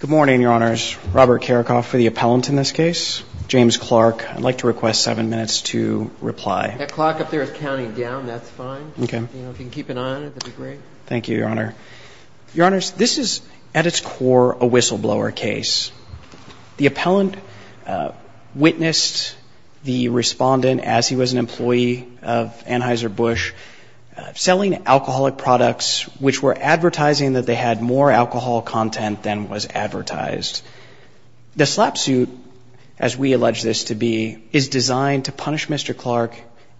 Good morning, Your Honors. Robert Karakoff for the appellant in this case. James Clark, I'd like to request seven minutes to reply. That clock up there is counting down. That's fine. Okay. You know, if you can keep an eye on it, that'd be great. Thank you, Your Honor. Your Honors, this is, at its core, a whistleblower case. The appellant witnessed the respondent, as he was an employee of Anheuser-Busch, selling alcoholic products which were advertising that they had more alcohol content than was advertised. The slap suit, as we allege this to be, is designed to punish Mr. Clark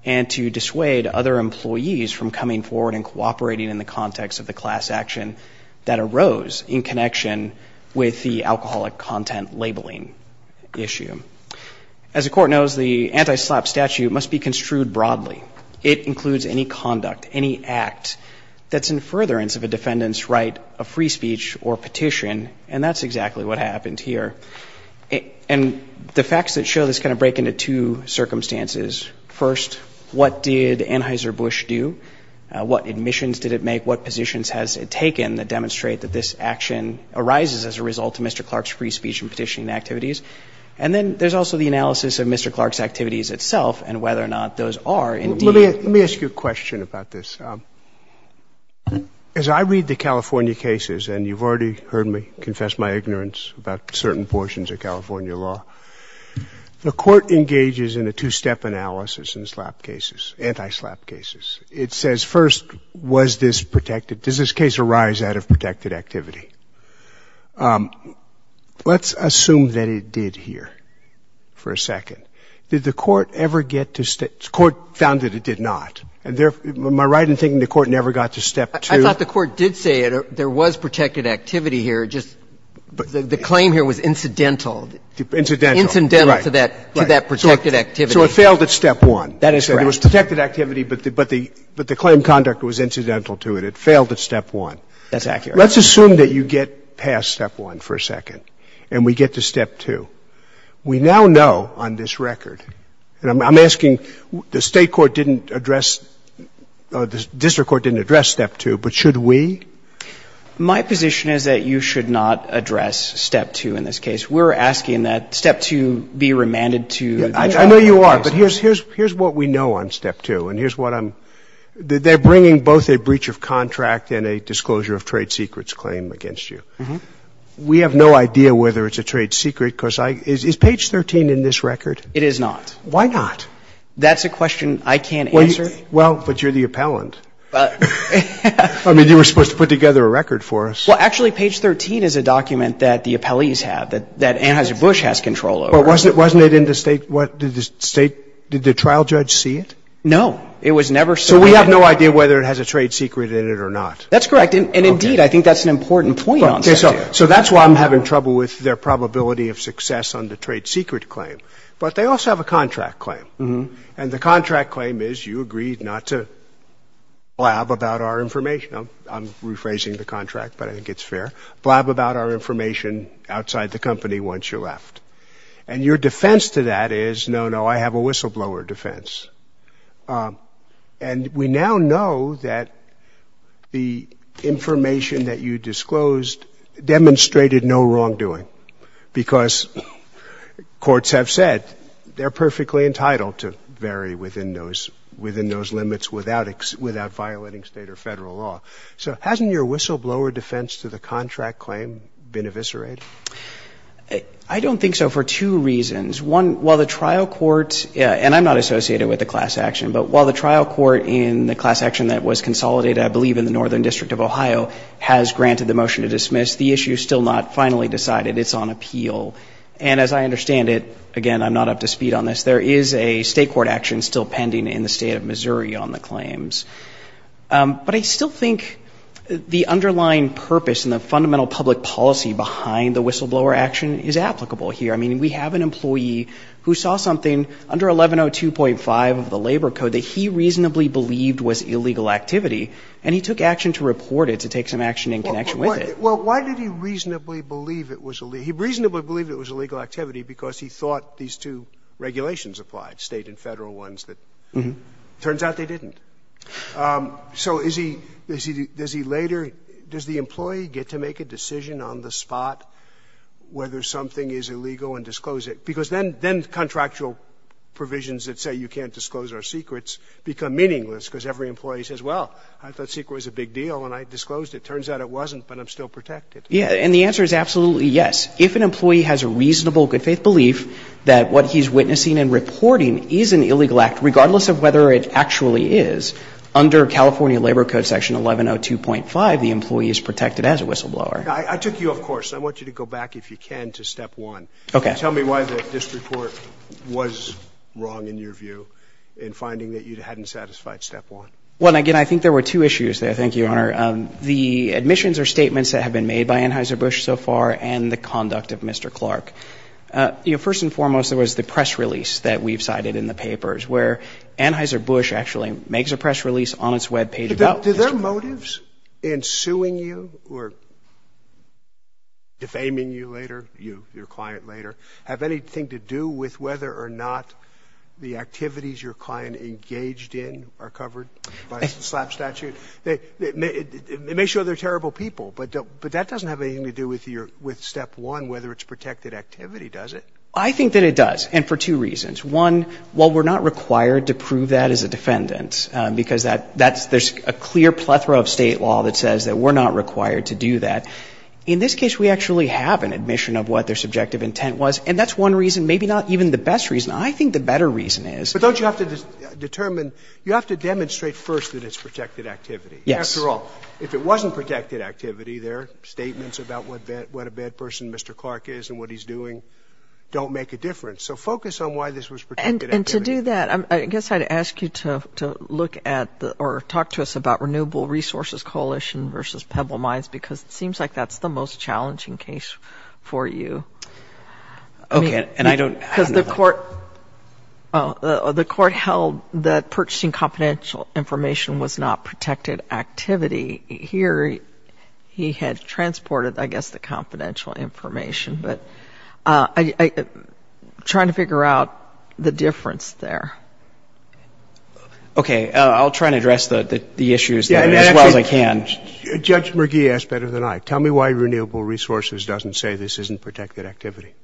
and to dissuade other employees from coming forward and cooperating in the context of the class action that arose in connection with the alcoholic content labeling issue. As the Court knows, the anti-slap statute must be construed broadly. It includes any conduct, any act that's in furtherance of a defendant's right of free speech or petition, and that's exactly what happened here. And the facts that show this kind of break into two circumstances. First, what did Anheuser-Busch do? What admissions did it make? What positions has it taken that demonstrate that this action arises as a result of Mr. Clark's free speech and petitioning activities? And then there's also the analysis of Mr. Clark's activities itself and whether or not those are, indeed. Scalia. Let me ask you a question about this. As I read the California cases, and you've already heard me confess my ignorance about certain portions of California law, the Court engages in a two-step analysis in slap cases, anti-slap cases. It says, first, was this protected? Does this case arise out of protected activity? Let's assume that it did here for a second. Did the Court ever get to step — the Court found that it did not. And therefore, am I right in thinking the Court never got to step two? I thought the Court did say there was protected activity here, just the claim here was incidental. Incidental. Incidental to that protected activity. So it failed at step one. That is correct. It was protected activity, but the claim conduct was incidental to it. It failed at step one. That's accurate. Let's assume that you get past step one for a second and we get to step two. We now know on this record, and I'm asking, the State court didn't address — the district court didn't address step two, but should we? My position is that you should not address step two in this case. We're asking that step two be remanded to the trial. I know you are, but here's what we know on step two, and here's what I'm — they're We have no idea whether it's a trade secret. Is page 13 in this record? It is not. Why not? That's a question I can't answer. Well, but you're the appellant. I mean, you were supposed to put together a record for us. Well, actually, page 13 is a document that the appellees have, that Anheuser-Busch has control over. But wasn't it in the State — did the trial judge see it? No. It was never — So we have no idea whether it has a trade secret in it or not. That's correct. And, indeed, I think that's an important point on step two. Okay, so that's why I'm having trouble with their probability of success on the trade secret claim. But they also have a contract claim. And the contract claim is you agreed not to blab about our information. I'm rephrasing the contract, but I think it's fair. Blab about our information outside the company once you're left. And your defense to that is, no, no, I have a whistleblower defense. And we now know that the information that you disclosed demonstrated no wrongdoing because courts have said they're perfectly entitled to vary within those — within those limits without violating State or Federal law. So hasn't your whistleblower defense to the contract claim been eviscerated? I don't think so for two reasons. One, while the trial court — and I'm not associated with the class action, but while the trial court in the class action that was consolidated, I believe, in the Northern District of Ohio has granted the motion to dismiss, the issue is still not finally decided. It's on appeal. And as I understand it, again, I'm not up to speed on this, there is a State court action still pending in the State of Missouri on the claims. But I still think the underlying purpose and the fundamental public policy behind the whistleblower action is applicable here. I mean, we have an employee who saw something under 1102.5 of the Labor Code that he reasonably believed was illegal activity, and he took action to report it to take some action in connection with it. Well, why did he reasonably believe it was — he reasonably believed it was illegal activity because he thought these two regulations applied, State and Federal ones that — turns out they didn't. So is he — does he later — does the employee get to make a decision on the spot whether something is illegal and disclose it? Because then — then contractual provisions that say you can't disclose our secrets become meaningless because every employee says, well, I thought secret was a big deal and I disclosed it. Turns out it wasn't, but I'm still protected. Yeah. And the answer is absolutely yes. If an employee has a reasonable good-faith belief that what he's witnessing and reporting is an illegal act, regardless of whether it actually is, under California Labor Code section 1102.5, the employee is protected as a whistleblower. I took you, of course. I want you to go back, if you can, to step one. Okay. Tell me why this report was wrong in your view in finding that you hadn't satisfied step one. Well, again, I think there were two issues there. Thank you, Your Honor. The admissions or statements that have been made by Anheuser-Busch so far and the conduct of Mr. Clark. You know, first and foremost, there was the press release that we've cited in the papers where Anheuser-Busch actually makes a press release on its web page about Mr. Clark. Do your motives in suing you or defaming you later, you, your client later, have anything to do with whether or not the activities your client engaged in are covered by the SLAPP statute? It may show they're terrible people, but that doesn't have anything to do with your step one, whether it's protected activity, does it? I think that it does, and for two reasons. One, while we're not required to prove that as a defendant, because that's – there's a clear plethora of State law that says that we're not required to do that. In this case, we actually have an admission of what their subjective intent was, and that's one reason, maybe not even the best reason. I think the better reason is – But don't you have to determine – you have to demonstrate first that it's protected activity. Yes. After all, if it wasn't protected activity, their statements about what a bad person Mr. Clark is and what he's doing don't make a difference. So focus on why this was protected activity. And to do that, I guess I'd ask you to look at – or talk to us about Renewable Resources Coalition v. Pebble Mines, because it seems like that's the most challenging case for you. Okay. And I don't – Because the court held that purchasing confidential information was not protected activity. Here, he had transported, I guess, the confidential information. But I'm trying to figure out the difference there. Okay. I'll try and address the issues as well as I can. Judge McGee asked better than I. Tell me why Renewable Resources doesn't say this isn't protected activity.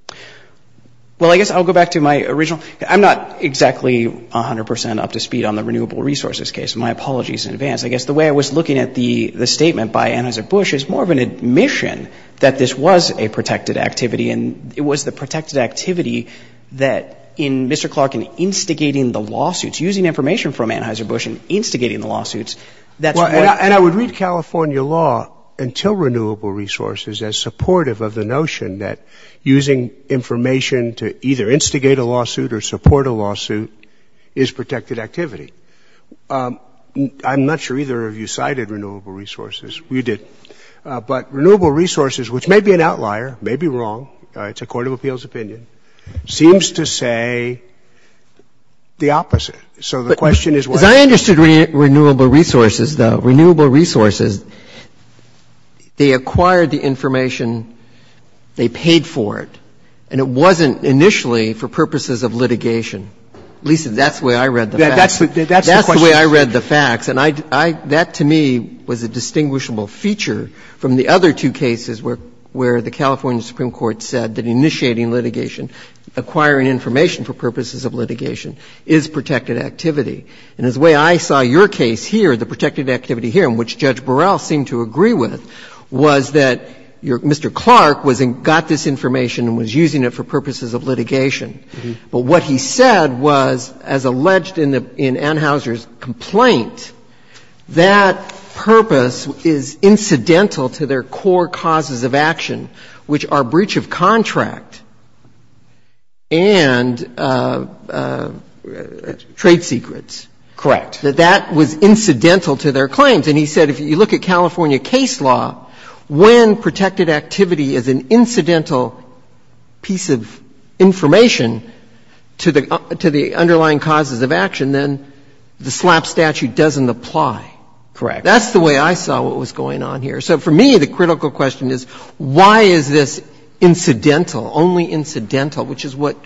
Well, I guess I'll go back to my original – I'm not exactly 100 percent up to speed on the Renewable Resources case. My apologies in advance. I guess the way I was looking at the statement by Anheuser-Busch is more of an admission that this was a protected activity. And it was the protected activity that, in Mr. Clark, in instigating the lawsuits, using information from Anheuser-Busch and instigating the lawsuits, that's what – And I would read California law until Renewable Resources as supportive of the notion that using information to either instigate a lawsuit or support a lawsuit is protected activity. I'm not sure either of you cited Renewable Resources. You did. But Renewable Resources, which may be an outlier, may be wrong, it's a court of appeals opinion, seems to say the opposite. So the question is what happens? As I understood Renewable Resources, though, Renewable Resources, they acquired the information, they paid for it, and it wasn't initially for purposes of litigation. At least that's the way I read the facts. That's the way I read the facts. And I – that to me was a distinguishable feature from the other two cases where the California Supreme Court said that initiating litigation, acquiring information for purposes of litigation, is protected activity. And the way I saw your case here, the protected activity here, and which Judge Burrell seemed to agree with, was that your – Mr. Clark was – got this information and was using it for purposes of litigation. But what he said was, as alleged in Anheuser's complaint, that purpose is incidental to their core causes of action, which are breach of contract and trade secrets. Correct. That that was incidental to their claims. And he said if you look at California case law, when protected activity is an incidental piece of information to the underlying causes of action, then the SLAPP statute doesn't apply. Correct. That's the way I saw what was going on here. So for me, the critical question is, why is this incidental, only incidental, which is what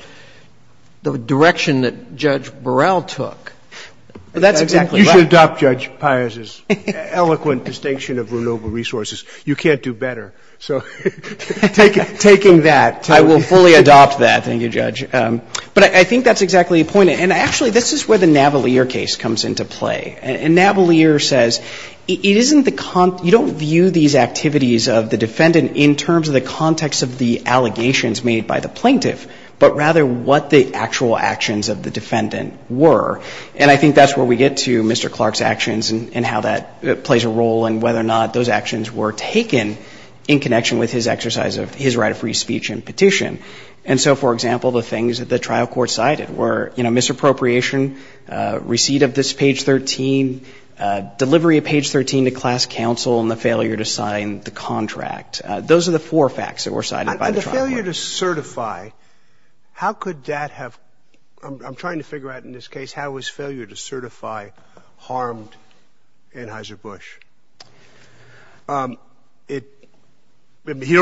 the direction that Judge Burrell took. That's exactly right. You should adopt Judge Pius's eloquent distinction of renewable resources. You can't do better. So taking that. I will fully adopt that. Thank you, Judge. But I think that's exactly the point. And actually, this is where the Navalier case comes into play. And Navalier says it isn't the – you don't view these activities of the defendant in terms of the context of the allegations made by the plaintiff, but rather what the actual actions of the defendant were. And I think that's where we get to Mr. Clark's actions and how that plays a role and whether or not those actions were taken in connection with his exercise of his right of free speech and petition. And so, for example, the things that the trial court cited were, you know, misappropriation, receipt of this page 13, delivery of page 13 to class counsel, and the failure to sign the contract. Those are the four facts that were cited by the trial court. And the failure to certify, how could that have – I'm trying to figure out in this case how his failure to certify harmed Anheuser-Busch. He'd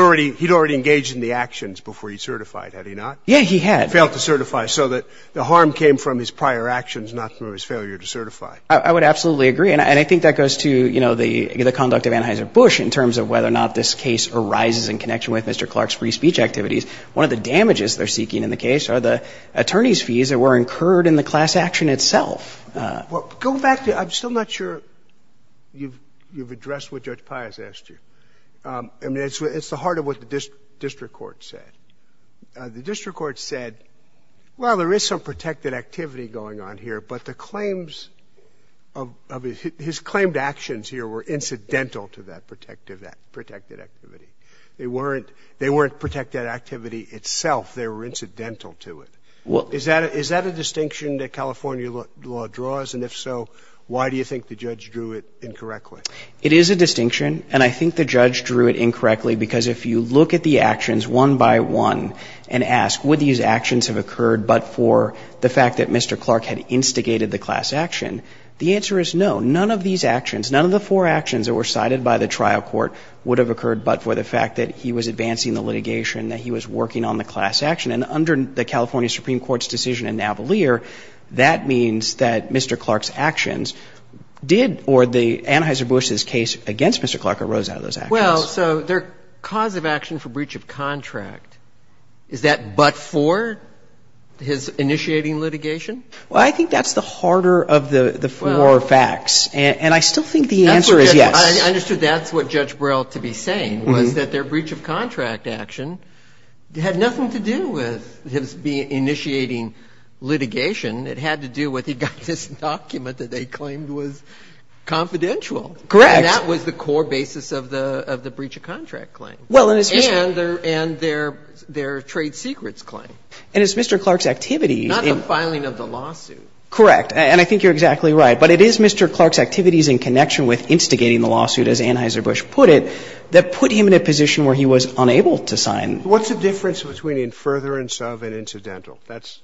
already engaged in the actions before he certified, had he not? Yeah, he had. He failed to certify. So the harm came from his prior actions, not from his failure to certify. I would absolutely agree. And I think that goes to, you know, the conduct of Anheuser-Busch in terms of whether or not this case arises in connection with Mr. Clark's free speech activities. One of the damages they're seeking in the case are the attorney's fees that were incurred in the class action itself. Go back to – I'm still not sure you've addressed what Judge Pius asked you. I mean, it's the heart of what the district court said. The district court said, well, there is some protected activity going on here, but the claims of – his claimed actions here were incidental to that protected activity. They weren't protected activity itself. They were incidental to it. Is that a distinction that California law draws? And if so, why do you think the judge drew it incorrectly? It is a distinction. And I think the judge drew it incorrectly because if you look at the actions one by one and ask would these actions have occurred but for the fact that Mr. Clark had instigated the class action, the answer is no. None of these actions, none of the four actions that were cited by the trial court would have occurred but for the fact that he was advancing the litigation, that he was working on the class action. And under the California Supreme Court's decision in Navalier, that means that Mr. Clark's actions did – or Anheuser-Busch's case against Mr. Clark arose out of those actions. Well, so their cause of action for breach of contract, is that but for his initiating litigation? Well, I think that's the harder of the four facts. And I still think the answer is yes. I understood that's what Judge Brell, to be saying, was that their breach of contract action had nothing to do with his initiating litigation. It had to do with he got this document that they claimed was confidential. Correct. And that was the core basis of the breach of contract claim. And their trade secrets claim. And it's Mr. Clark's activity. Not the filing of the lawsuit. Correct. And I think you're exactly right. But it is Mr. Clark's activities in connection with instigating the lawsuit, as Anheuser-Busch put it, that put him in a position where he was unable to sign. What's the difference between in furtherance of and incidental? That's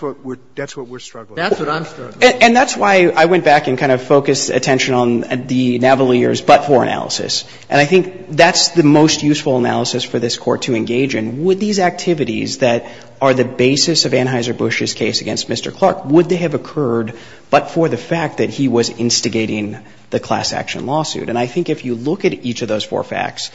what we're struggling with. That's what I'm struggling with. And that's why I went back and kind of focused attention on the Navalier's but-for analysis. And I think that's the most useful analysis for this Court to engage in. Would these activities that are the basis of Anheuser-Busch's case against Mr. Clark, would they have occurred but for the fact that he was instigating the class action lawsuit? And I think if you look at each of those four facts,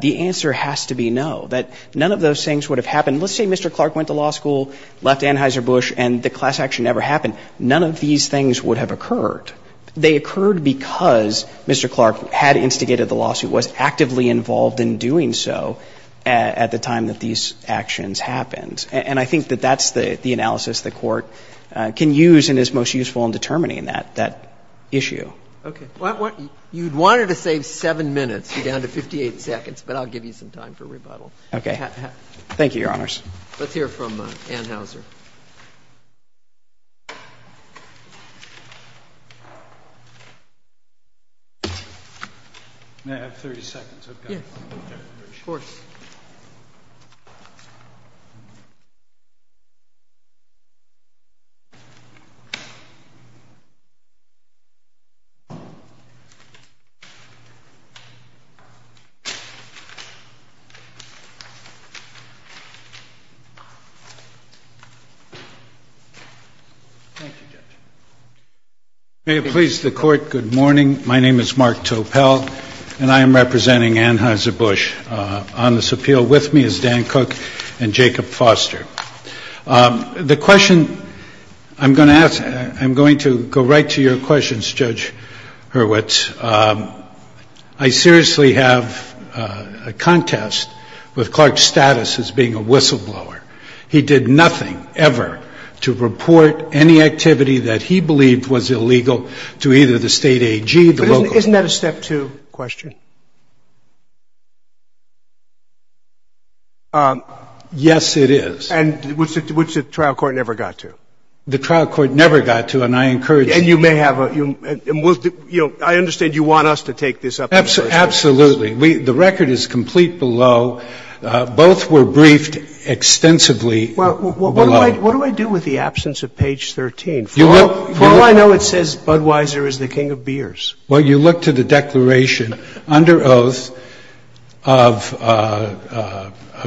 the answer has to be no. That none of those things would have happened. Let's say Mr. Clark went to law school, left Anheuser-Busch, and the class action never happened. None of these things would have occurred. They occurred because Mr. Clark had instigated the lawsuit, was actively involved in doing so at the time that these actions happened. And I think that that's the analysis the Court can use and is most useful in determining that issue. Okay. You wanted to save 7 minutes. You're down to 58 seconds, but I'll give you some time for rebuttal. Okay. Thank you, Your Honors. Let's hear from Anheuser. May I have 30 seconds? Yes, of course. May it please the Court, good morning. My name is Mark Topel, and I am representing Anheuser-Busch. On this appeal with me is Dan Cook and Jacob Foster. The question I'm going to ask, I'm going to go right to your questions, Judge Hurwitz. I seriously have a contest with Clark's status as being a whistleblower. He did nothing ever to report any activity that he believed was illegal to either the state AG, the local AG. Is that correct? Yes, it is. And which the trial court never got to. The trial court never got to, and I encourage you. And you may have a, you know, I understand you want us to take this up. Absolutely. The record is complete below. Both were briefed extensively below. Well, what do I do with the absence of page 13? For all I know, it says Budweiser is the king of beers. Well, you look to the declaration under oath of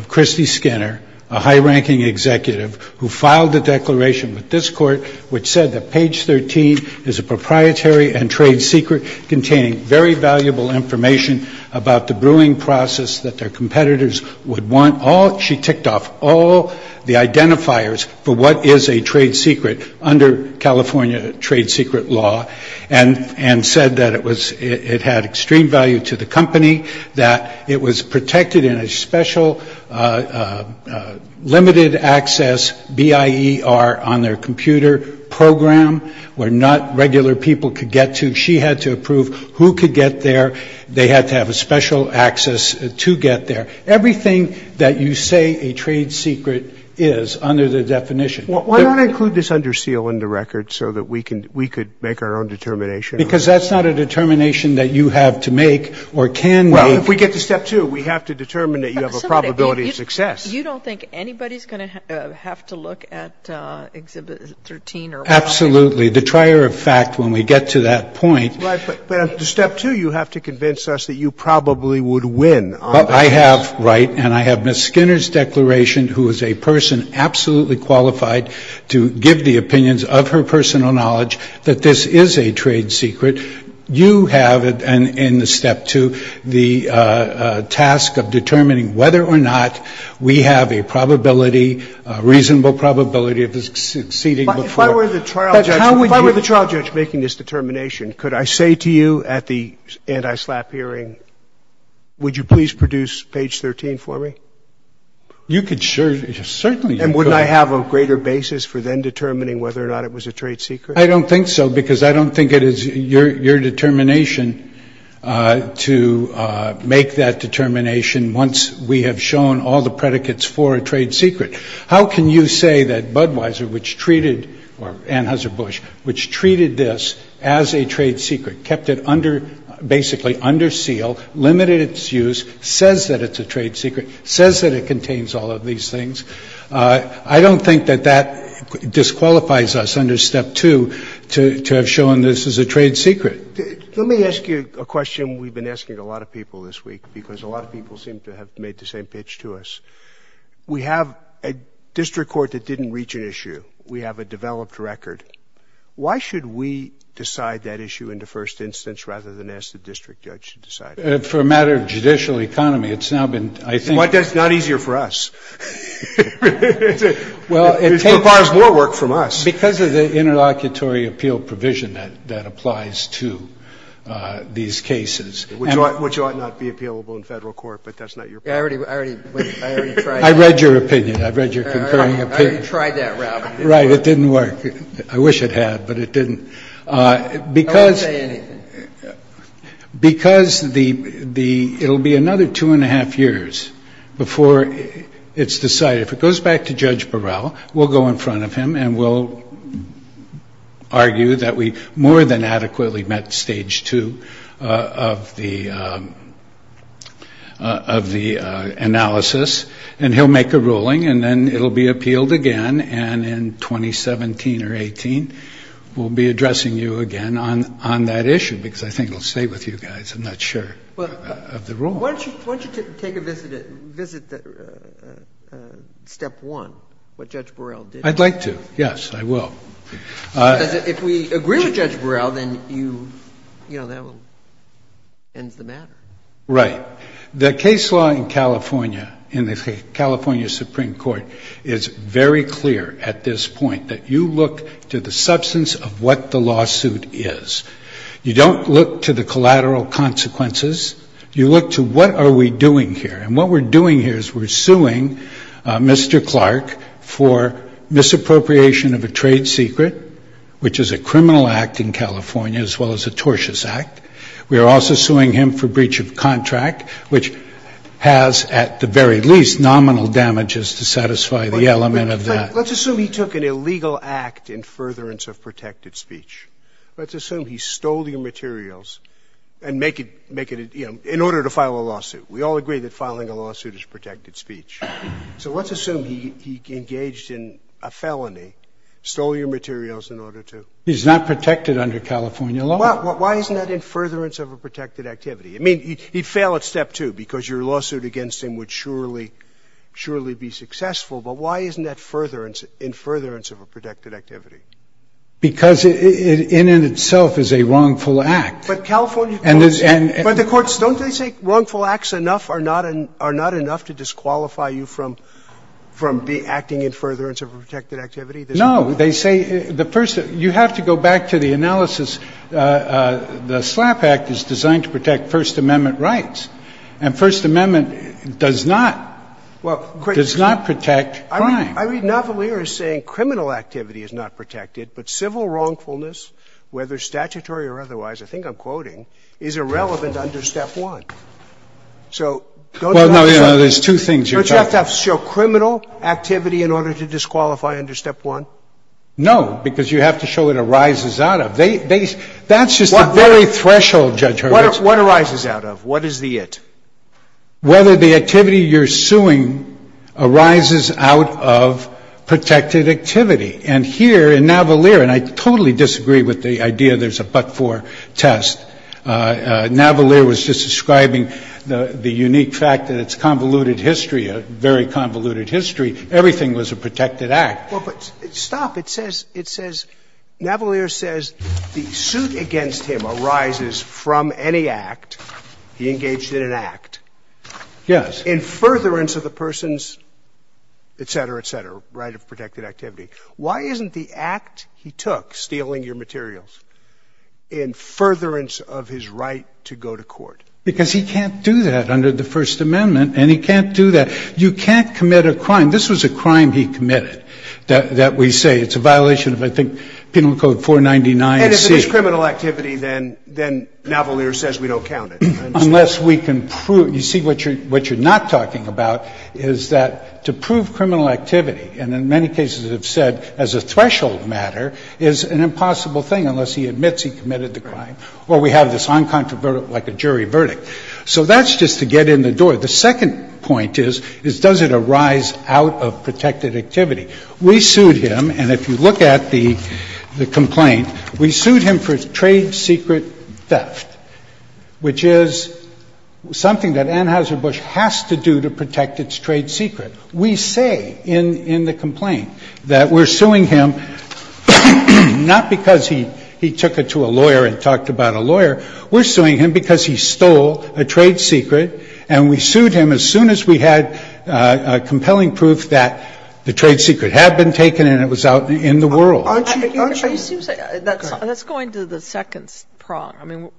Christy Skinner, a high-ranking executive who filed a declaration with this court which said that page 13 is a proprietary and trade secret containing very valuable information about the brewing process that their competitors would want. She ticked off all the identifiers for what is a trade secret under California trade secret law and said that it had extreme value to the company, that it was protected in a special limited access BIER on their computer program where not regular people could get to. She had to approve who could get there. They had to have a special access to get there. Everything that you say a trade secret is under the definition. Why don't I include this under seal in the record so that we could make our own determination? Because that's not a determination that you have to make or can make. Well, if we get to step two, we have to determine that you have a probability of success. You don't think anybody is going to have to look at exhibit 13? Absolutely. The trier of fact, when we get to that point. Right. But on step two, you have to convince us that you probably would win on this. I have, right. And I have Ms. Skinner's declaration who is a person absolutely qualified to give the opinions of her personal knowledge that this is a trade secret. You have in the step two the task of determining whether or not we have a probability, a reasonable probability of succeeding. But if I were the trial judge making this determination, could I say to you at the anti-SLAPP hearing, would you please produce page 13 for me? You could, sure. Certainly. And wouldn't I have a greater basis for then determining whether or not it was a trade secret? I don't think so, because I don't think it is your determination to make that determination once we have shown all the predicates for a trade secret. How can you say that Budweiser, which treated, or Anheuser-Busch, which treated this as a trade secret, kept it under, basically under seal, limited its use, says that it's a trade secret. Says that it contains all of these things. I don't think that that disqualifies us under step two to have shown this as a trade secret. Let me ask you a question we've been asking a lot of people this week, because a lot of people seem to have made the same pitch to us. We have a district court that didn't reach an issue. We have a developed record. Why should we decide that issue in the first instance rather than ask the district judge to decide it? Well, it's not easy for us. It requires more work from us. Because of the interlocutory appeal provision that applies to these cases. Which ought not to be appealable in Federal court, but that's not your point. I read your opinion. I read your concurring opinion. I already tried that, Robert. Right. It didn't work. I wish it had, but it didn't. I won't say anything. Because it will be another two and a half years before it's decided. If it goes back to Judge Burrell, we'll go in front of him and we'll argue that we more than adequately met stage two of the analysis. And he'll make a ruling and then it will be appealed again. And in 2017 or 18, we'll be addressing you again on that issue. Because I think it will stay with you guys. I'm not sure of the rule. Why don't you take a visit at step one? What Judge Burrell did. I'd like to. Yes, I will. Because if we agree with Judge Burrell, then that ends the matter. Right. The case law in California, in the California Supreme Court, is very clear at this point, that you look to the substance of what the lawsuit is. You don't look to the collateral consequences. You look to what are we doing here. And what we're doing here is we're suing Mr. Clark for misappropriation of a trade secret, which is a criminal act in California, as well as a tortious act. We are also suing him for breach of contract, which has at the very least nominal damages to satisfy the element of that. But let's assume he took an illegal act in furtherance of protected speech. Let's assume he stole your materials and make it, you know, in order to file a lawsuit. We all agree that filing a lawsuit is protected speech. So let's assume he engaged in a felony, stole your materials in order to. He's not protected under California law. So why isn't that in furtherance of a protected activity? I mean, he'd fail at step two, because your lawsuit against him would surely, surely be successful. But why isn't that furtherance, in furtherance of a protected activity? Because it in and of itself is a wrongful act. But California courts, but the courts, don't they say wrongful acts enough are not enough to disqualify you from acting in furtherance of a protected activity? They say the first you have to go back to the analysis. The SLAPP Act is designed to protect First Amendment rights. And First Amendment does not. It does not protect crime. I read Navalier as saying criminal activity is not protected, but civil wrongfulness, whether statutory or otherwise, I think I'm quoting, is irrelevant under step one. So don't you have to show criminal activity in order to disqualify under step one? No, because you have to show what arises out of. That's just the very threshold, Judge Hurwitz. What arises out of? What is the it? Whether the activity you're suing arises out of protected activity. And here in Navalier, and I totally disagree with the idea there's a but-for test. Navalier was just describing the unique fact that it's convoluted history, a very convoluted history. Everything was a protected act. Well, but stop. It says, it says, Navalier says the suit against him arises from any act. He engaged in an act. Yes. In furtherance of the person's, et cetera, et cetera, right of protected activity. Why isn't the act he took, stealing your materials, in furtherance of his right to go to court? Because he can't do that under the First Amendment, and he can't do that. You can't commit a crime. This was a crime he committed that we say it's a violation of, I think, Penal Code 499C. And if it is criminal activity, then Navalier says we don't count it. I understand. Unless we can prove. You see, what you're not talking about is that to prove criminal activity, and in many cases have said as a threshold matter, is an impossible thing unless he admits he committed the crime. Right. Or we have this uncontroverted, like a jury verdict. So that's just to get in the door. The second point is, is does it arise out of protected activity? We sued him, and if you look at the complaint, we sued him for trade secret theft, which is something that Anheuser-Busch has to do to protect its trade secret. We say in the complaint that we're suing him not because he took it to a lawyer and talked about a lawyer. We're suing him because he stole a trade secret, and we sued him as soon as we had compelling proof that the trade secret had been taken and it was out in the world. Aren't you going to the second prong? I mean,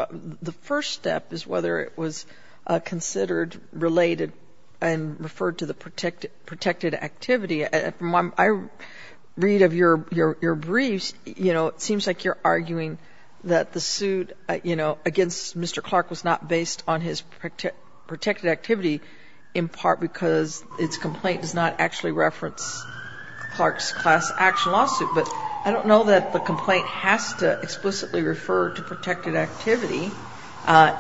the first step is whether it was considered related and referred to the protected activity. From what I read of your briefs, you know, it seems like you're arguing that the complaint against Mr. Clark was not based on his protected activity in part because its complaint does not actually reference Clark's class action lawsuit. But I don't know that the complaint has to explicitly refer to protected activity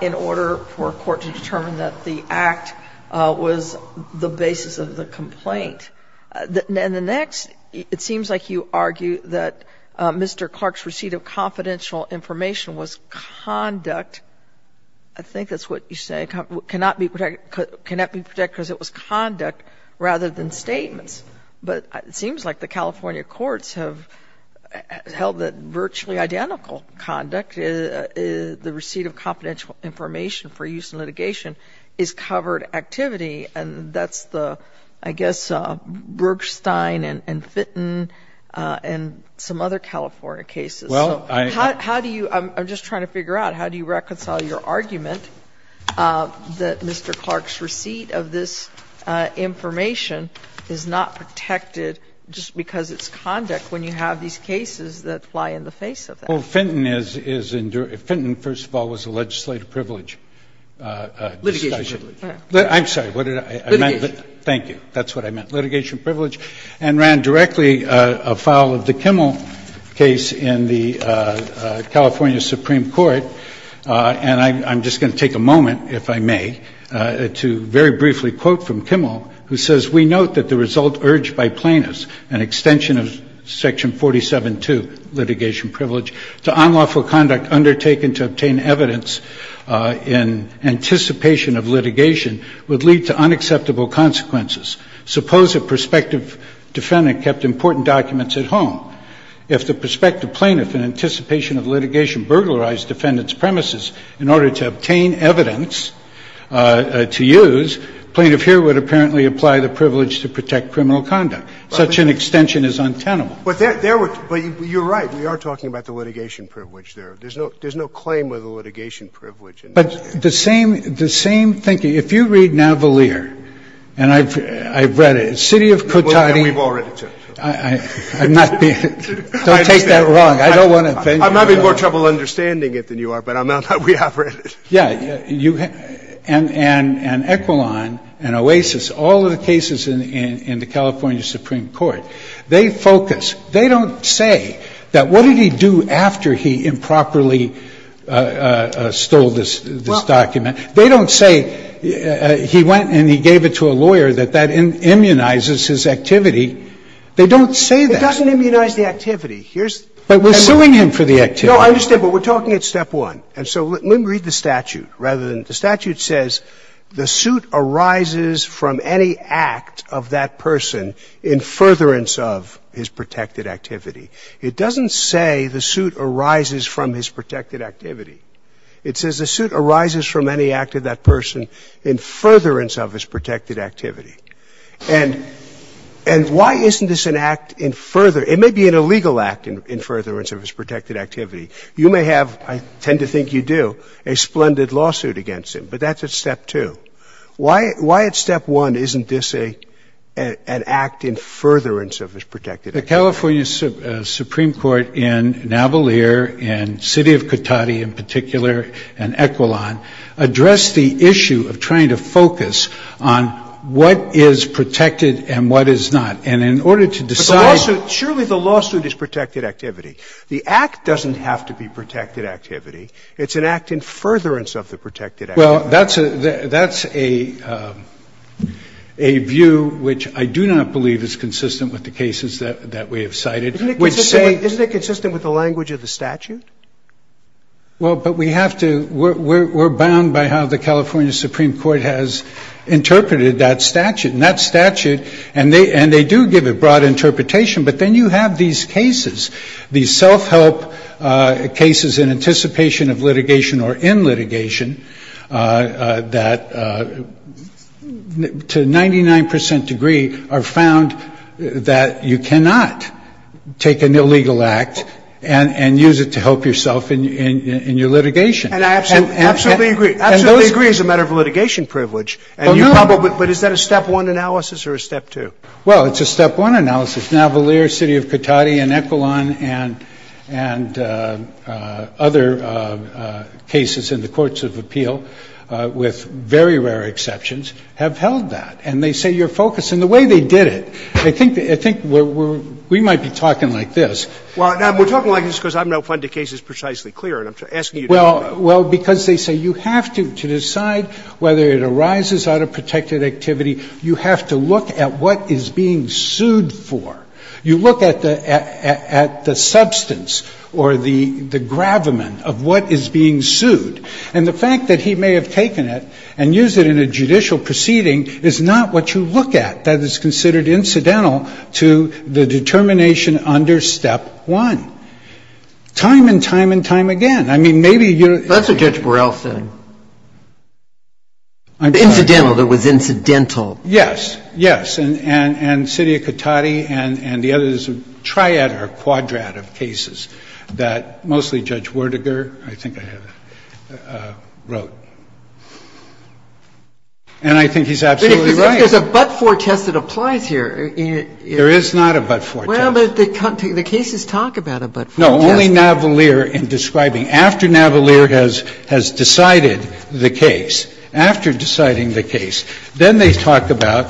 in order for a court to determine that the act was the basis of the complaint. And the next, it seems like you argue that Mr. Clark's receipt of confidential information was conduct. I think that's what you say. It cannot be protected because it was conduct rather than statements. But it seems like the California courts have held that virtually identical conduct, the receipt of confidential information for use in litigation, is covered activity. And that's the, I guess, Bergstein and Fitton and some other California cases. So how do you, I'm just trying to figure out, how do you reconcile your argument that Mr. Clark's receipt of this information is not protected just because it's conduct when you have these cases that fly in the face of that? Well, Fitton is, Fitton, first of all, was a legislative privilege. Litigation privilege. I'm sorry. Litigation. Thank you. That's what I meant. And ran directly a file of the Kimmel case in the California Supreme Court. And I'm just going to take a moment, if I may, to very briefly quote from Kimmel, who says, We note that the result urged by plaintiffs, an extension of section 47-2, litigation privilege, to unlawful conduct undertaken to obtain evidence in anticipation of litigation would lead to unacceptable consequences. Suppose a prospective defendant kept important documents at home. If the prospective plaintiff, in anticipation of litigation, burglarized defendant's premises in order to obtain evidence to use, plaintiff here would apparently apply the privilege to protect criminal conduct. Such an extension is untenable. But you're right. We are talking about the litigation privilege there. There's no claim of the litigation privilege. But the same thinking, if you read Navalier, and I've read it, City of Cotati. We've all read it, too. I'm not being, don't take that wrong. I don't want to offend you. I'm having more trouble understanding it than you are, but I'm not, we have read it. Yeah. And Equilon and Oasis, all of the cases in the California Supreme Court, they focus, they don't say that what did he do after he improperly stole this document. They don't say he went and he gave it to a lawyer, that that immunizes his activity. They don't say that. It doesn't immunize the activity. But we're suing him for the activity. No, I understand. But we're talking at step one. And so let me read the statute rather than the statute says the suit arises from any act of that person in furtherance of his protected activity. It doesn't say the suit arises from his protected activity. It says the suit arises from any act of that person in furtherance of his protected activity. And why isn't this an act in furtherance? It may be an illegal act in furtherance of his protected activity. You may have, I tend to think you do, a splendid lawsuit against him, but that's at step two. Why at step one isn't this an act in furtherance of his protected activity? The California Supreme Court in Navalier and City of Cotati in particular and Equilon addressed the issue of trying to focus on what is protected and what is not. And in order to decide But the lawsuit, surely the lawsuit is protected activity. The act doesn't have to be protected activity. It's an act in furtherance of the protected activity. Well, that's a view which I do not believe is consistent with the cases that we have cited, which say Isn't it consistent with the language of the statute? Well, but we have to, we're bound by how the California Supreme Court has interpreted that statute. And that statute, and they do give a broad interpretation. But then you have these cases, these self-help cases in anticipation of litigation or in litigation that to 99% degree are found that you cannot take an illegal act and use it to help yourself in your litigation. And I absolutely agree. I absolutely agree it's a matter of litigation privilege. But is that a step one analysis or a step two? Well, it's a step one analysis. And the courts of appeals, as Navalier, city of Katady, and Ecolon, and other cases in the courts of appeal, with very rare exceptions, have held that. And they say you're focused. And the way they did it, I think we're, we might be talking like this. Well, we're talking like this because I'm not finding the cases precisely clear. And I'm asking you to explain. Well, because they say you have to, to decide whether it arises out of protected activity, you have to look at what is being sued for. You look at the substance or the gravamen of what is being sued. And the fact that he may have taken it and used it in a judicial proceeding is not what you look at. That is considered incidental to the determination under step one. Time and time and time again. I mean, maybe you're. That's what Judge Burrell said. Incidental. It was incidental. Yes. Yes. And city of Katady and the others, a triad or a quadrat of cases that mostly Judge Werdiger, I think I have it, wrote. And I think he's absolutely right. But if there's a but-for test that applies here. Well, but the cases talk about a but-for test. No, only Navalier in describing. After Navalier has decided the case. After deciding the case. Then they talk about,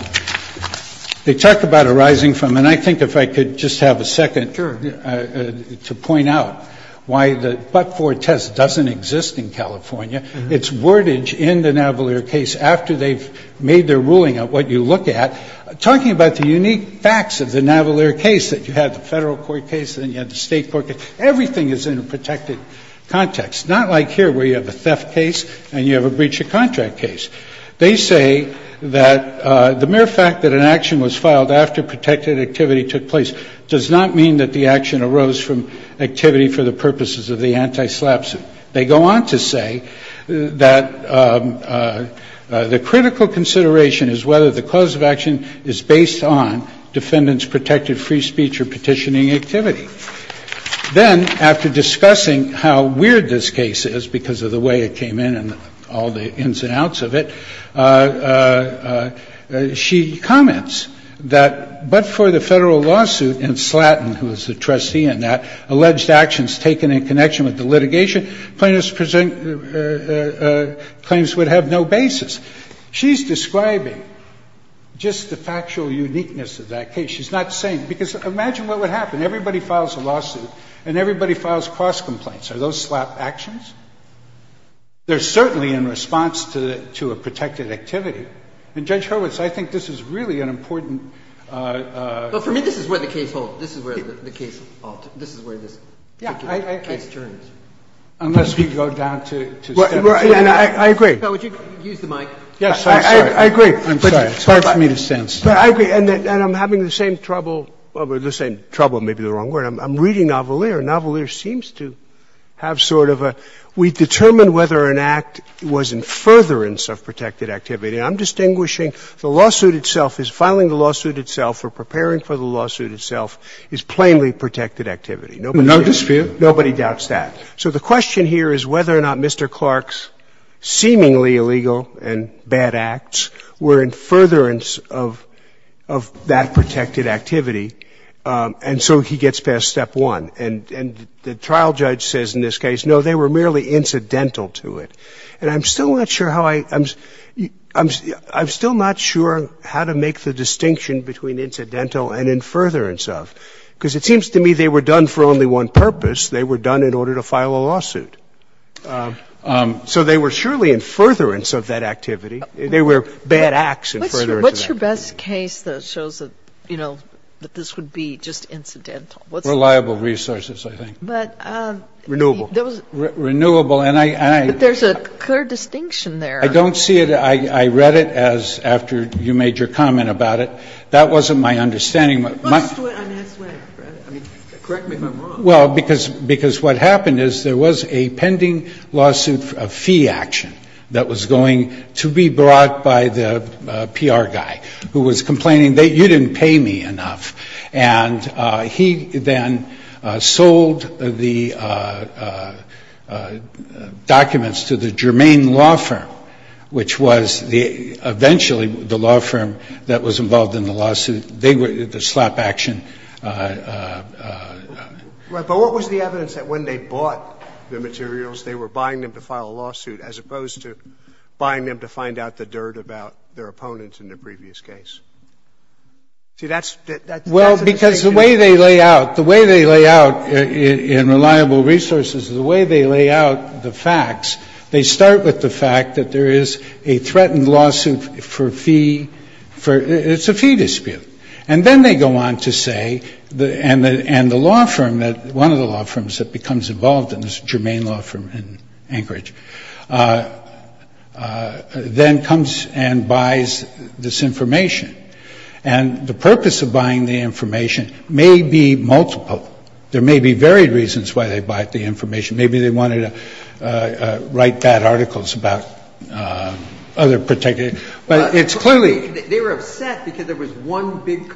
they talk about arising from. And I think if I could just have a second. Sure. To point out why the but-for test doesn't exist in California. It's wordage in the Navalier case after they've made their ruling of what you look at. Talking about the unique facts of the Navalier case. You had the federal court case. Then you had the state court case. Everything is in a protected context. Not like here where you have a theft case and you have a breach of contract case. They say that the mere fact that an action was filed after protected activity took place does not mean that the action arose from activity for the purposes of the anti-SLAP suit. They go on to say that the critical consideration is whether the cause of action is based on defendant's protected free speech or petitioning activity. Then after discussing how weird this case is because of the way it came in and all the ins and outs of it, she comments that but for the federal lawsuit in Slatton, who is the trustee in that, alleged actions taken in connection with the litigation plaintiffs present claims would have no basis. She's describing just the factual uniqueness of that case. She's not saying – because imagine what would happen. Everybody files a lawsuit and everybody files cross complaints. Are those SLAP actions? They're certainly in response to a protected activity. And, Judge Hurwitz, I think this is really an important – But for me, this is where the case holds. This is where the case holds. This is where this particular case turns. Yeah, I agree. Unless we go down to step two. I agree. Would you use the mic? Yes, I agree. I'm sorry. It's hard for me to sense. I agree. And I'm having the same trouble – well, the same trouble may be the wrong word. I'm reading Navalier. Navalier seems to have sort of a – we determined whether an act was in furtherance of protected activity. I'm distinguishing the lawsuit itself as filing the lawsuit itself or preparing for the lawsuit itself is plainly protected activity. No dispute. Nobody doubts that. So the question here is whether or not Mr. Clark's seemingly illegal and bad acts were in furtherance of that protected activity. And so he gets past step one. And the trial judge says in this case, no, they were merely incidental to it. And I'm still not sure how I – I'm still not sure how to make the distinction between incidental and in furtherance of, because it seems to me they were done for only one purpose. They were done in order to file a lawsuit. So they were surely in furtherance of that activity. They were bad acts in furtherance of that activity. What's your best case that shows that, you know, that this would be just incidental? Reliable resources, I think. Renewable. Renewable. But there's a clear distinction there. I don't see it. I read it as after you made your comment about it. That wasn't my understanding. Correct me if I'm wrong. Well, because what happened is there was a pending lawsuit, a fee action, that was going to be brought by the PR guy who was complaining, you didn't pay me enough. And he then sold the documents to the Germain law firm, which was eventually the law firm that was involved in the lawsuit. And they were the slap action. Right. But what was the evidence that when they bought the materials, they were buying them to file a lawsuit as opposed to buying them to find out the dirt about their opponent in the previous case? See, that's the distinction. Well, because the way they lay out, the way they lay out in reliable resources, the way they lay out the facts, they start with the fact that there is a threatened lawsuit for fee. It's a fee dispute. And then they go on to say, and the law firm, one of the law firms that becomes involved in this, Germain law firm in Anchorage, then comes and buys this information. And the purpose of buying the information may be multiple. There may be varied reasons why they bought the information. Maybe they wanted to write bad articles about other particular. But it's clearly. They were upset because there was one big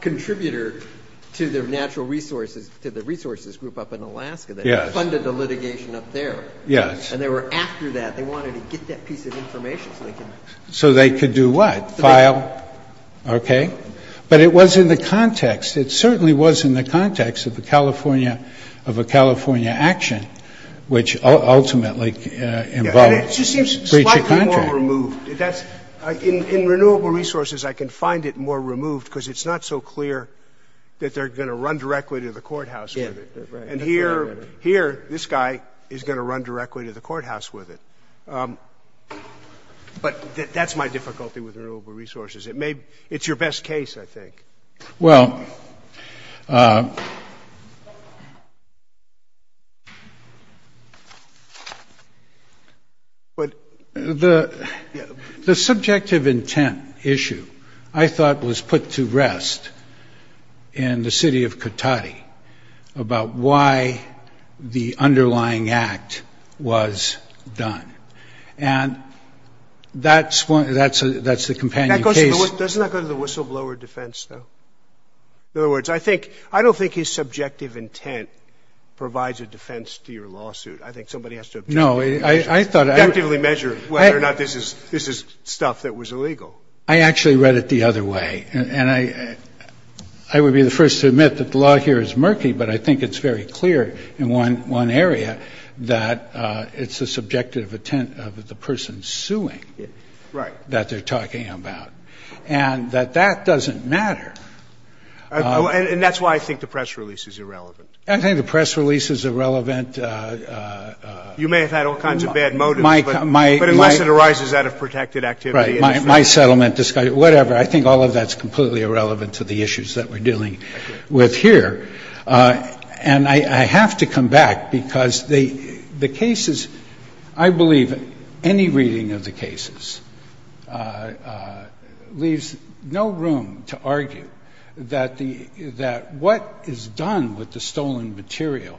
contributor to their natural resources, to the resources group up in Alaska that funded the litigation up there. Yes. And they were after that. They wanted to get that piece of information so they could. So they could do what? File. Okay. But it was in the context. It certainly was in the context of the California, of a California action, which ultimately involved breach of contract. It just seems slightly more removed. In renewable resources, I can find it more removed because it's not so clear that they're going to run directly to the courthouse with it. And here, this guy is going to run directly to the courthouse with it. But that's my difficulty with renewable resources. It's your best case, I think. Well. The subjective intent issue, I thought, was put to rest in the city of Katahdi, about why the underlying act was done. And that's the companion case. Doesn't that go to the whistleblower defense, though? In other words, I don't think his subjective intent provides a defense to your lawsuit. I think somebody has to objectively measure whether or not this is stuff that was illegal. I actually read it the other way. And I would be the first to admit that the law here is murky, but I think it's very clear in one area that it's the subjective intent of the person suing. Right. And the other area is that it's the subjective intent of the person suing. And I think that's the other part that they're talking about, and that that doesn't matter. And that's why I think the press release is irrelevant. I think the press release is irrelevant. You may have had all kinds of bad motives, but unless it arises out of protected activity. Right. My settlement, whatever, I think all of that is completely irrelevant to the issues that we're dealing with here. And I have to come back because the cases, I believe any reading of the cases, leaves no room to argue that what is done with the stolen material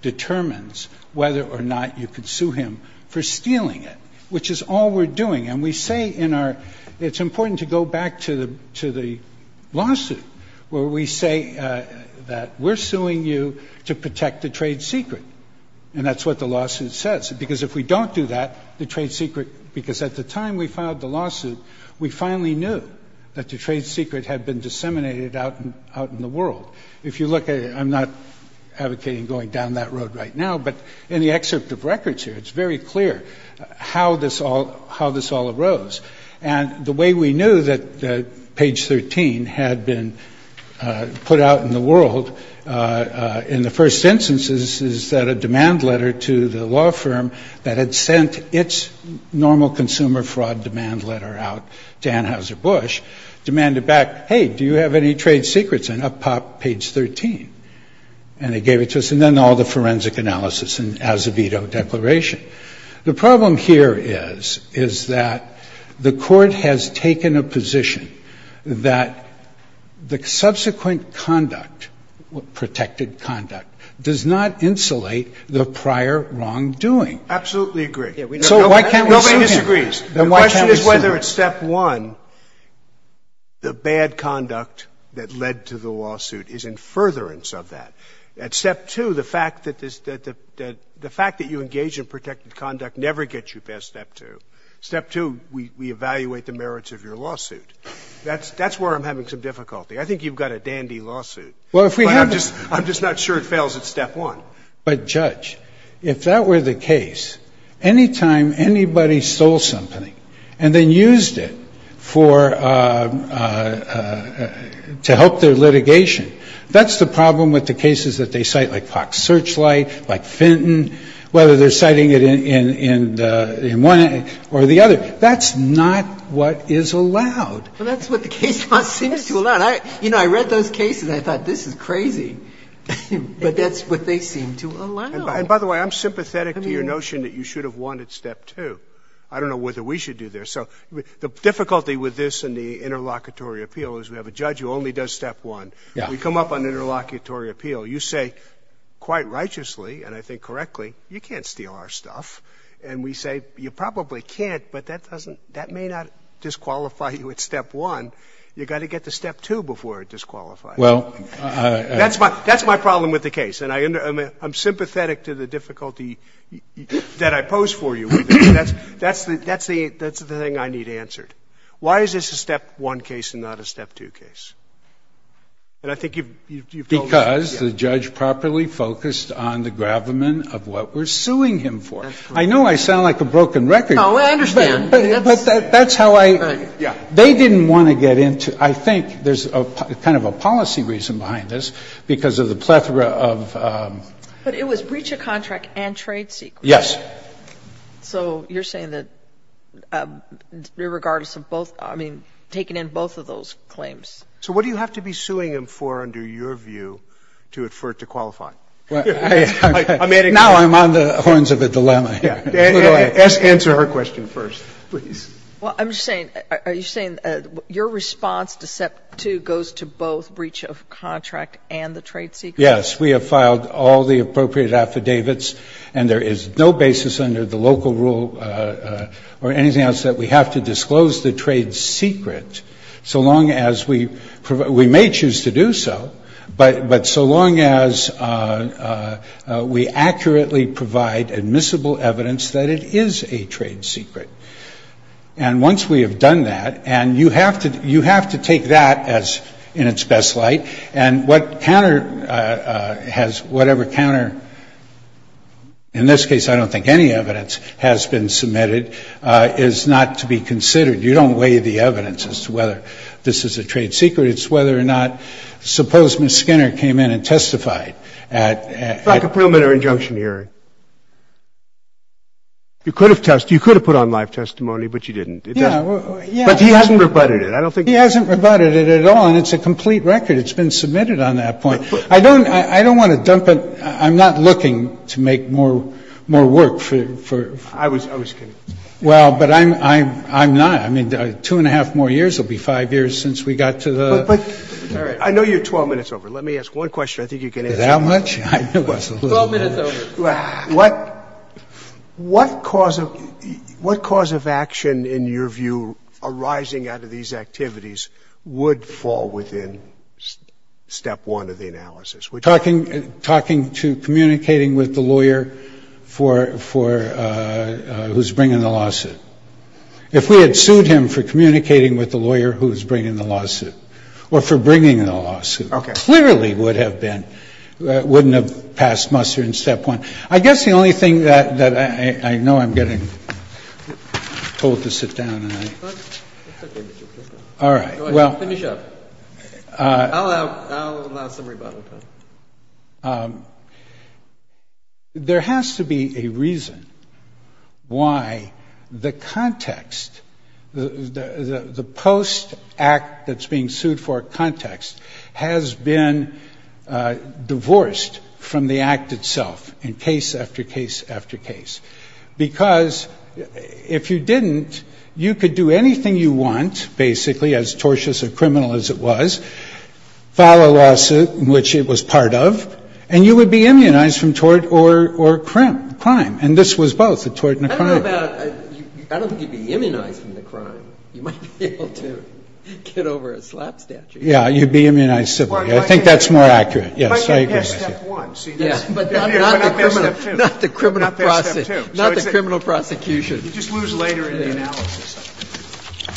determines whether or not you could sue him for stealing it, which is all we're doing. And we say in our – it's important to go back to the lawsuit where we say that we're suing you to protect the trade secret. And that's what the lawsuit says. Because if we don't do that, the trade secret – because at the time we filed the lawsuit, we finally knew that the trade secret had been disseminated out in the world. If you look at it, I'm not advocating going down that road right now, but in the excerpt of records here, it's very clear how this all arose. And the way we knew that page 13 had been put out in the world in the first instance is that a demand letter to the law firm that had sent its normal consumer fraud demand letter out to Anheuser-Busch demanded back, hey, do you have any trade secrets? And up popped page 13. And they gave it to us. And then all the forensic analysis and as-a-veto declaration. The problem here is, is that the Court has taken a position that the subsequent conduct, protected conduct, does not insulate the prior wrongdoing. Absolutely agree. So why can't we sue him? Nobody disagrees. The question is whether at step one the bad conduct that led to the lawsuit is in furtherance of that. At step two, the fact that this — that the fact that you engage in protected conduct never gets you past step two. Step two, we evaluate the merits of your lawsuit. That's where I'm having some difficulty. I think you've got a dandy lawsuit. But I'm just not sure it fails at step one. But, Judge, if that were the case, any time anybody stole something and then used it for — to help their litigation, that's the problem with the cases that they cite, like Park Searchlight, like Fenton, whether they're citing it in one or the other. That's not what is allowed. Well, that's what the case law seems to allow. You know, I read those cases and I thought, this is crazy. But that's what they seem to allow. And by the way, I'm sympathetic to your notion that you should have won at step I don't know whether we should do that. So the difficulty with this and the interlocutory appeal is we have a judge who only does step one. Yeah. We come up on interlocutory appeal. You say, quite righteously, and I think correctly, you can't steal our stuff. And we say, you probably can't, but that doesn't — that may not disqualify you at step one. You've got to get to step two before it disqualifies you. Well, I — That's my — that's my problem with the case. And I — I'm sympathetic to the difficulty that I pose for you. That's the — that's the — that's the thing I need answered. Why is this a step one case and not a step two case? And I think you've — Because the judge properly focused on the gravamen of what we're suing him for. I know I sound like a broken record. No, I understand. But that's how I — Right. Yeah. They didn't want to get into — I think there's a kind of a policy reason behind this because of the plethora of — But it was breach of contract and trade secrets. Yes. So you're saying that, regardless of both — I mean, taking in both of those claims. So what do you have to be suing him for under your view to — for it to qualify? I'm adding — Now I'm on the horns of a dilemma here. Answer her question first, please. Well, I'm just saying — are you saying your response to step two goes to both breach of contract and the trade secrets? Yes. We have filed all the appropriate affidavits, and there is no basis under the local rule or anything else that we have to disclose the trade secret so long as we — we may choose to do so, but so long as we accurately provide admissible evidence that it is a trade secret. And once we have done that — and you have to take that in its best light. And what counter — has whatever counter — in this case, I don't think any evidence has been submitted — is not to be considered. You don't weigh the evidence as to whether this is a trade secret. It's whether or not — suppose Ms. Skinner came in and testified at — Like a preliminary injunction hearing. You could have put on live testimony, but you didn't. Yeah. But he hasn't rebutted it. I don't think — He hasn't rebutted it at all, and it's a complete record. It's been submitted on that point. I don't — I don't want to dump it — I'm not looking to make more — more work for — I was — I was kidding. Well, but I'm — I'm not. I mean, two and a half more years will be five years since we got to the — But — but — All right. I know you're 12 minutes over. Let me ask one question. I think you can answer it. That much? I know it's a little much. Twelve minutes over. What — what cause of — what cause of action, in your view, arising out of these activities would fall within step one of the analysis? We're talking — talking to — communicating with the lawyer for — for who's bringing the lawsuit. If we had sued him for communicating with the lawyer who's bringing the lawsuit or for bringing the lawsuit, it clearly would have been — wouldn't have passed muster in step one. I guess the only thing that — that I — I know I'm getting told to sit down and I — It's okay, Mr. Krishnan. All right. Well — Finish up. I'll allow — I'll allow some rebuttal time. There has to be a reason why the context — the post-act that's being sued for context has been divorced from the act itself in case after case after case. Because if you didn't, you could do anything you want, basically, as tortious or criminal as it was, file a lawsuit, which it was part of, and you would be immunized from tort or — or crime. And this was both, the tort and the crime. I don't know about — I don't think you'd be immunized from the crime. You might be able to get over a slap statute. Yeah. You'd be immunized civilly. I think that's more accurate. I agree with you. But you'd pass step one. See, that's — Yeah. But not the criminal — Not their step two. Not their step two. Not the criminal prosecution. You just lose later in the analysis.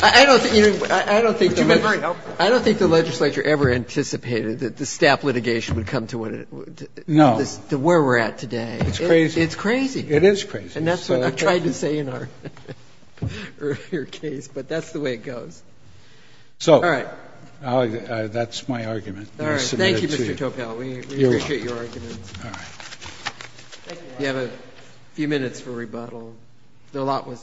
I don't think — I don't think the — It's very helpful. I don't think the legislature ever anticipated that the staff litigation would come to what it — No. To where we're at today. It's crazy. It's crazy. It is crazy. And that's what I tried to say in our earlier case. But that's the way it goes. So — All right. That's my argument. I'll submit it to you. All right. Thank you, Mr. Topel. We appreciate your argument. All right. Thank you, Your Honor. You have a few minutes for rebuttal, though a lot was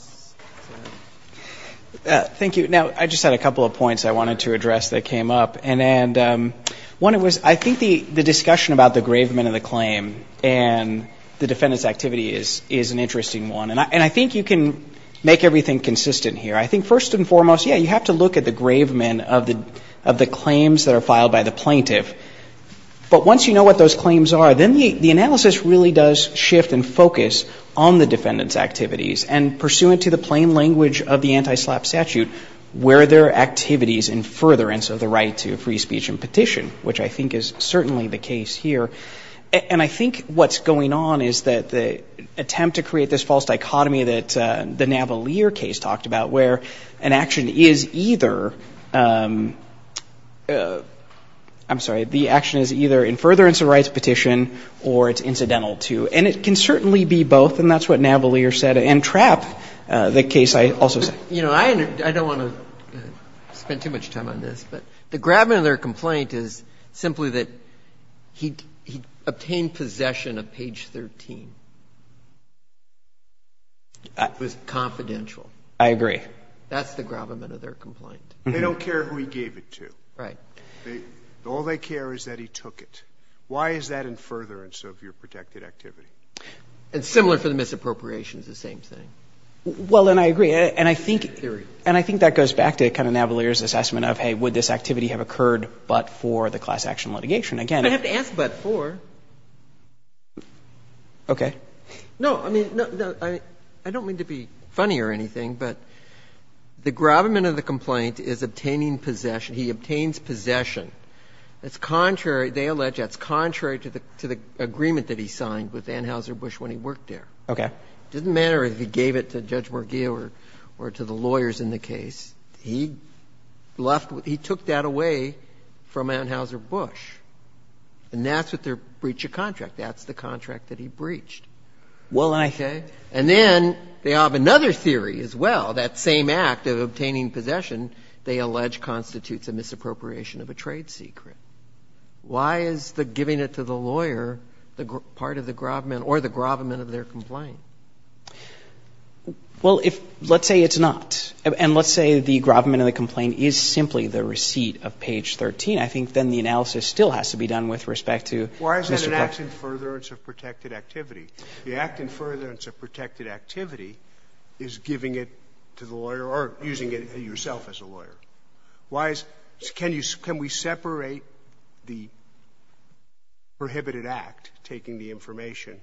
said. Thank you. Now, I just had a couple of points I wanted to address that came up. And one was, I think the discussion about the grave men of the claim and the defendant's activity is an interesting one. And I think you can make everything consistent here. I think first and foremost, yeah, you have to look at the grave men of the claims that are filed by the plaintiff. But once you know what those claims are, then the analysis really does shift and focus on the defendant's activities. And pursuant to the plain language of the anti-SLAPP statute, where there are activities in furtherance of the right to free speech and petition, which I think is certainly the case here. And I think what's going on is that the attempt to create this false dichotomy that the Navalier case talked about, where an action is either, I'm sorry, the action is either in furtherance of rights petition or it's incidental to. And it can certainly be both. And that's what Navalier said. And Trapp, the case I also said. You know, I don't want to spend too much time on this, but the grave men of their complaint is simply that he obtained possession of page 13. It was confidential. I agree. That's the grave men of their complaint. They don't care who he gave it to. Right. All they care is that he took it. Why is that in furtherance of your protected activity? It's similar for the misappropriations, the same thing. Well, and I agree. And I think that goes back to kind of Navalier's assessment of, hey, would this activity have occurred but for the class action litigation? Again, if you have to ask but for. Okay. No, I mean, I don't mean to be funny or anything, but the grave men of the complaint is obtaining possession. He obtains possession. That's contrary, they allege that's contrary to the agreement that he signed with Anheuser-Busch when he worked there. Okay. It doesn't matter if he gave it to Judge Morgill or to the lawyers in the case. He took that away from Anheuser-Busch. And that's what their breach of contract. That's the contract that he breached. Well, and I think. Okay. And then they have another theory as well, that same act of obtaining possession they allege constitutes a misappropriation of a trade secret. Why is the giving it to the lawyer part of the grave men or the grave men of their complaint? Well, if let's say it's not, and let's say the grave men of the complaint is simply the receipt of page 13. I think then the analysis still has to be done with respect to Mr. Clark. Why is it an act in furtherance of protected activity? The act in furtherance of protected activity is giving it to the lawyer or using it yourself as a lawyer. Why is can you can we separate the prohibited act, taking the information,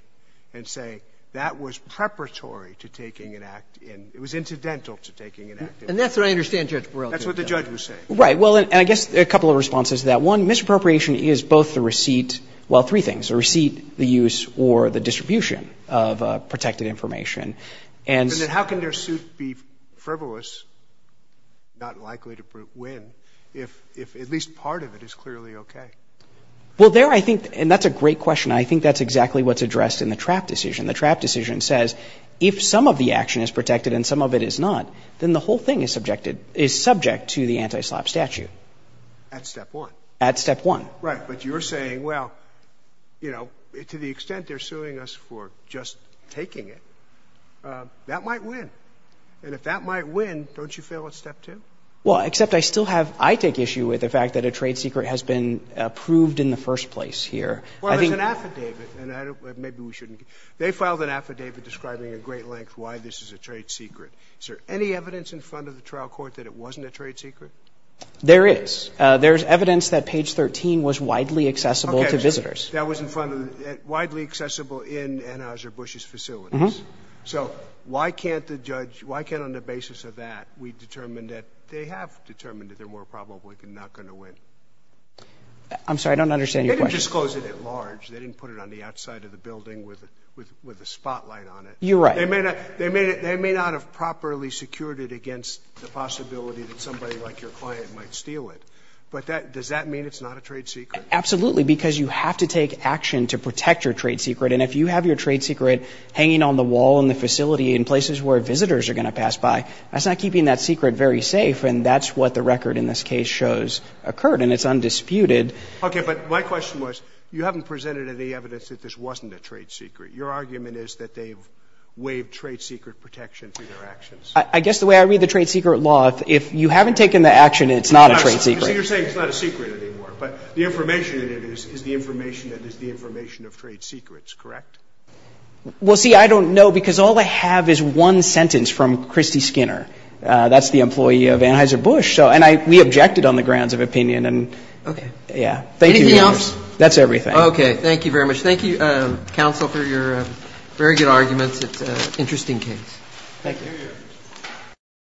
and say that was preparatory to taking an act in. It was incidental to taking an act in. And that's what I understand Judge Barrell did. That's what the judge was saying. Well, and I guess a couple of responses to that. One, misappropriation is both the receipt, well, three things. The receipt, the use, or the distribution of protected information. And then how can their suit be frivolous, not likely to win, if at least part of it is clearly okay? Well, there I think, and that's a great question. I think that's exactly what's addressed in the Trapp decision. The Trapp decision says if some of the action is protected and some of it is not, then the whole thing is subjected, is subject to the anti-SLAPP statute. At step one. At step one. Right. But you're saying, well, you know, to the extent they're suing us for just taking it, that might win. And if that might win, don't you fail at step two? Well, except I still have, I take issue with the fact that a trade secret has been approved in the first place here. Well, there's an affidavit, and I don't, maybe we shouldn't. They filed an affidavit describing at great length why this is a trade secret. Is there any evidence in front of the trial court that it wasn't a trade secret? There is. There's evidence that page 13 was widely accessible to visitors. Okay. That was in front of, widely accessible in Anheuser-Busch's facilities. Mm-hmm. So why can't the judge, why can't on the basis of that, we determine that they have determined that they're more probably not going to win? I'm sorry, I don't understand your question. They didn't disclose it at large. They didn't put it on the outside of the building with a spotlight on it. You're right. They may not have properly secured it against the possibility that somebody like your client might steal it. But does that mean it's not a trade secret? Absolutely, because you have to take action to protect your trade secret. And if you have your trade secret hanging on the wall in the facility in places where visitors are going to pass by, that's not keeping that secret very safe. And that's what the record in this case shows occurred. And it's undisputed. Okay. But my question was, you haven't presented any evidence that this wasn't a trade secret. Your argument is that they've waived trade secret protection through their actions. I guess the way I read the trade secret law, if you haven't taken the action, it's not a trade secret. So you're saying it's not a secret anymore. But the information in it is the information that is the information of trade secrets, correct? Well, see, I don't know, because all I have is one sentence from Christy Skinner. That's the employee of Anheuser-Busch. And we objected on the grounds of opinion. Okay. Yeah. Anything else? That's everything. Okay. Thank you very much. Thank you, counsel, for your very good arguments. It's an interesting case. Thank you. Thank you.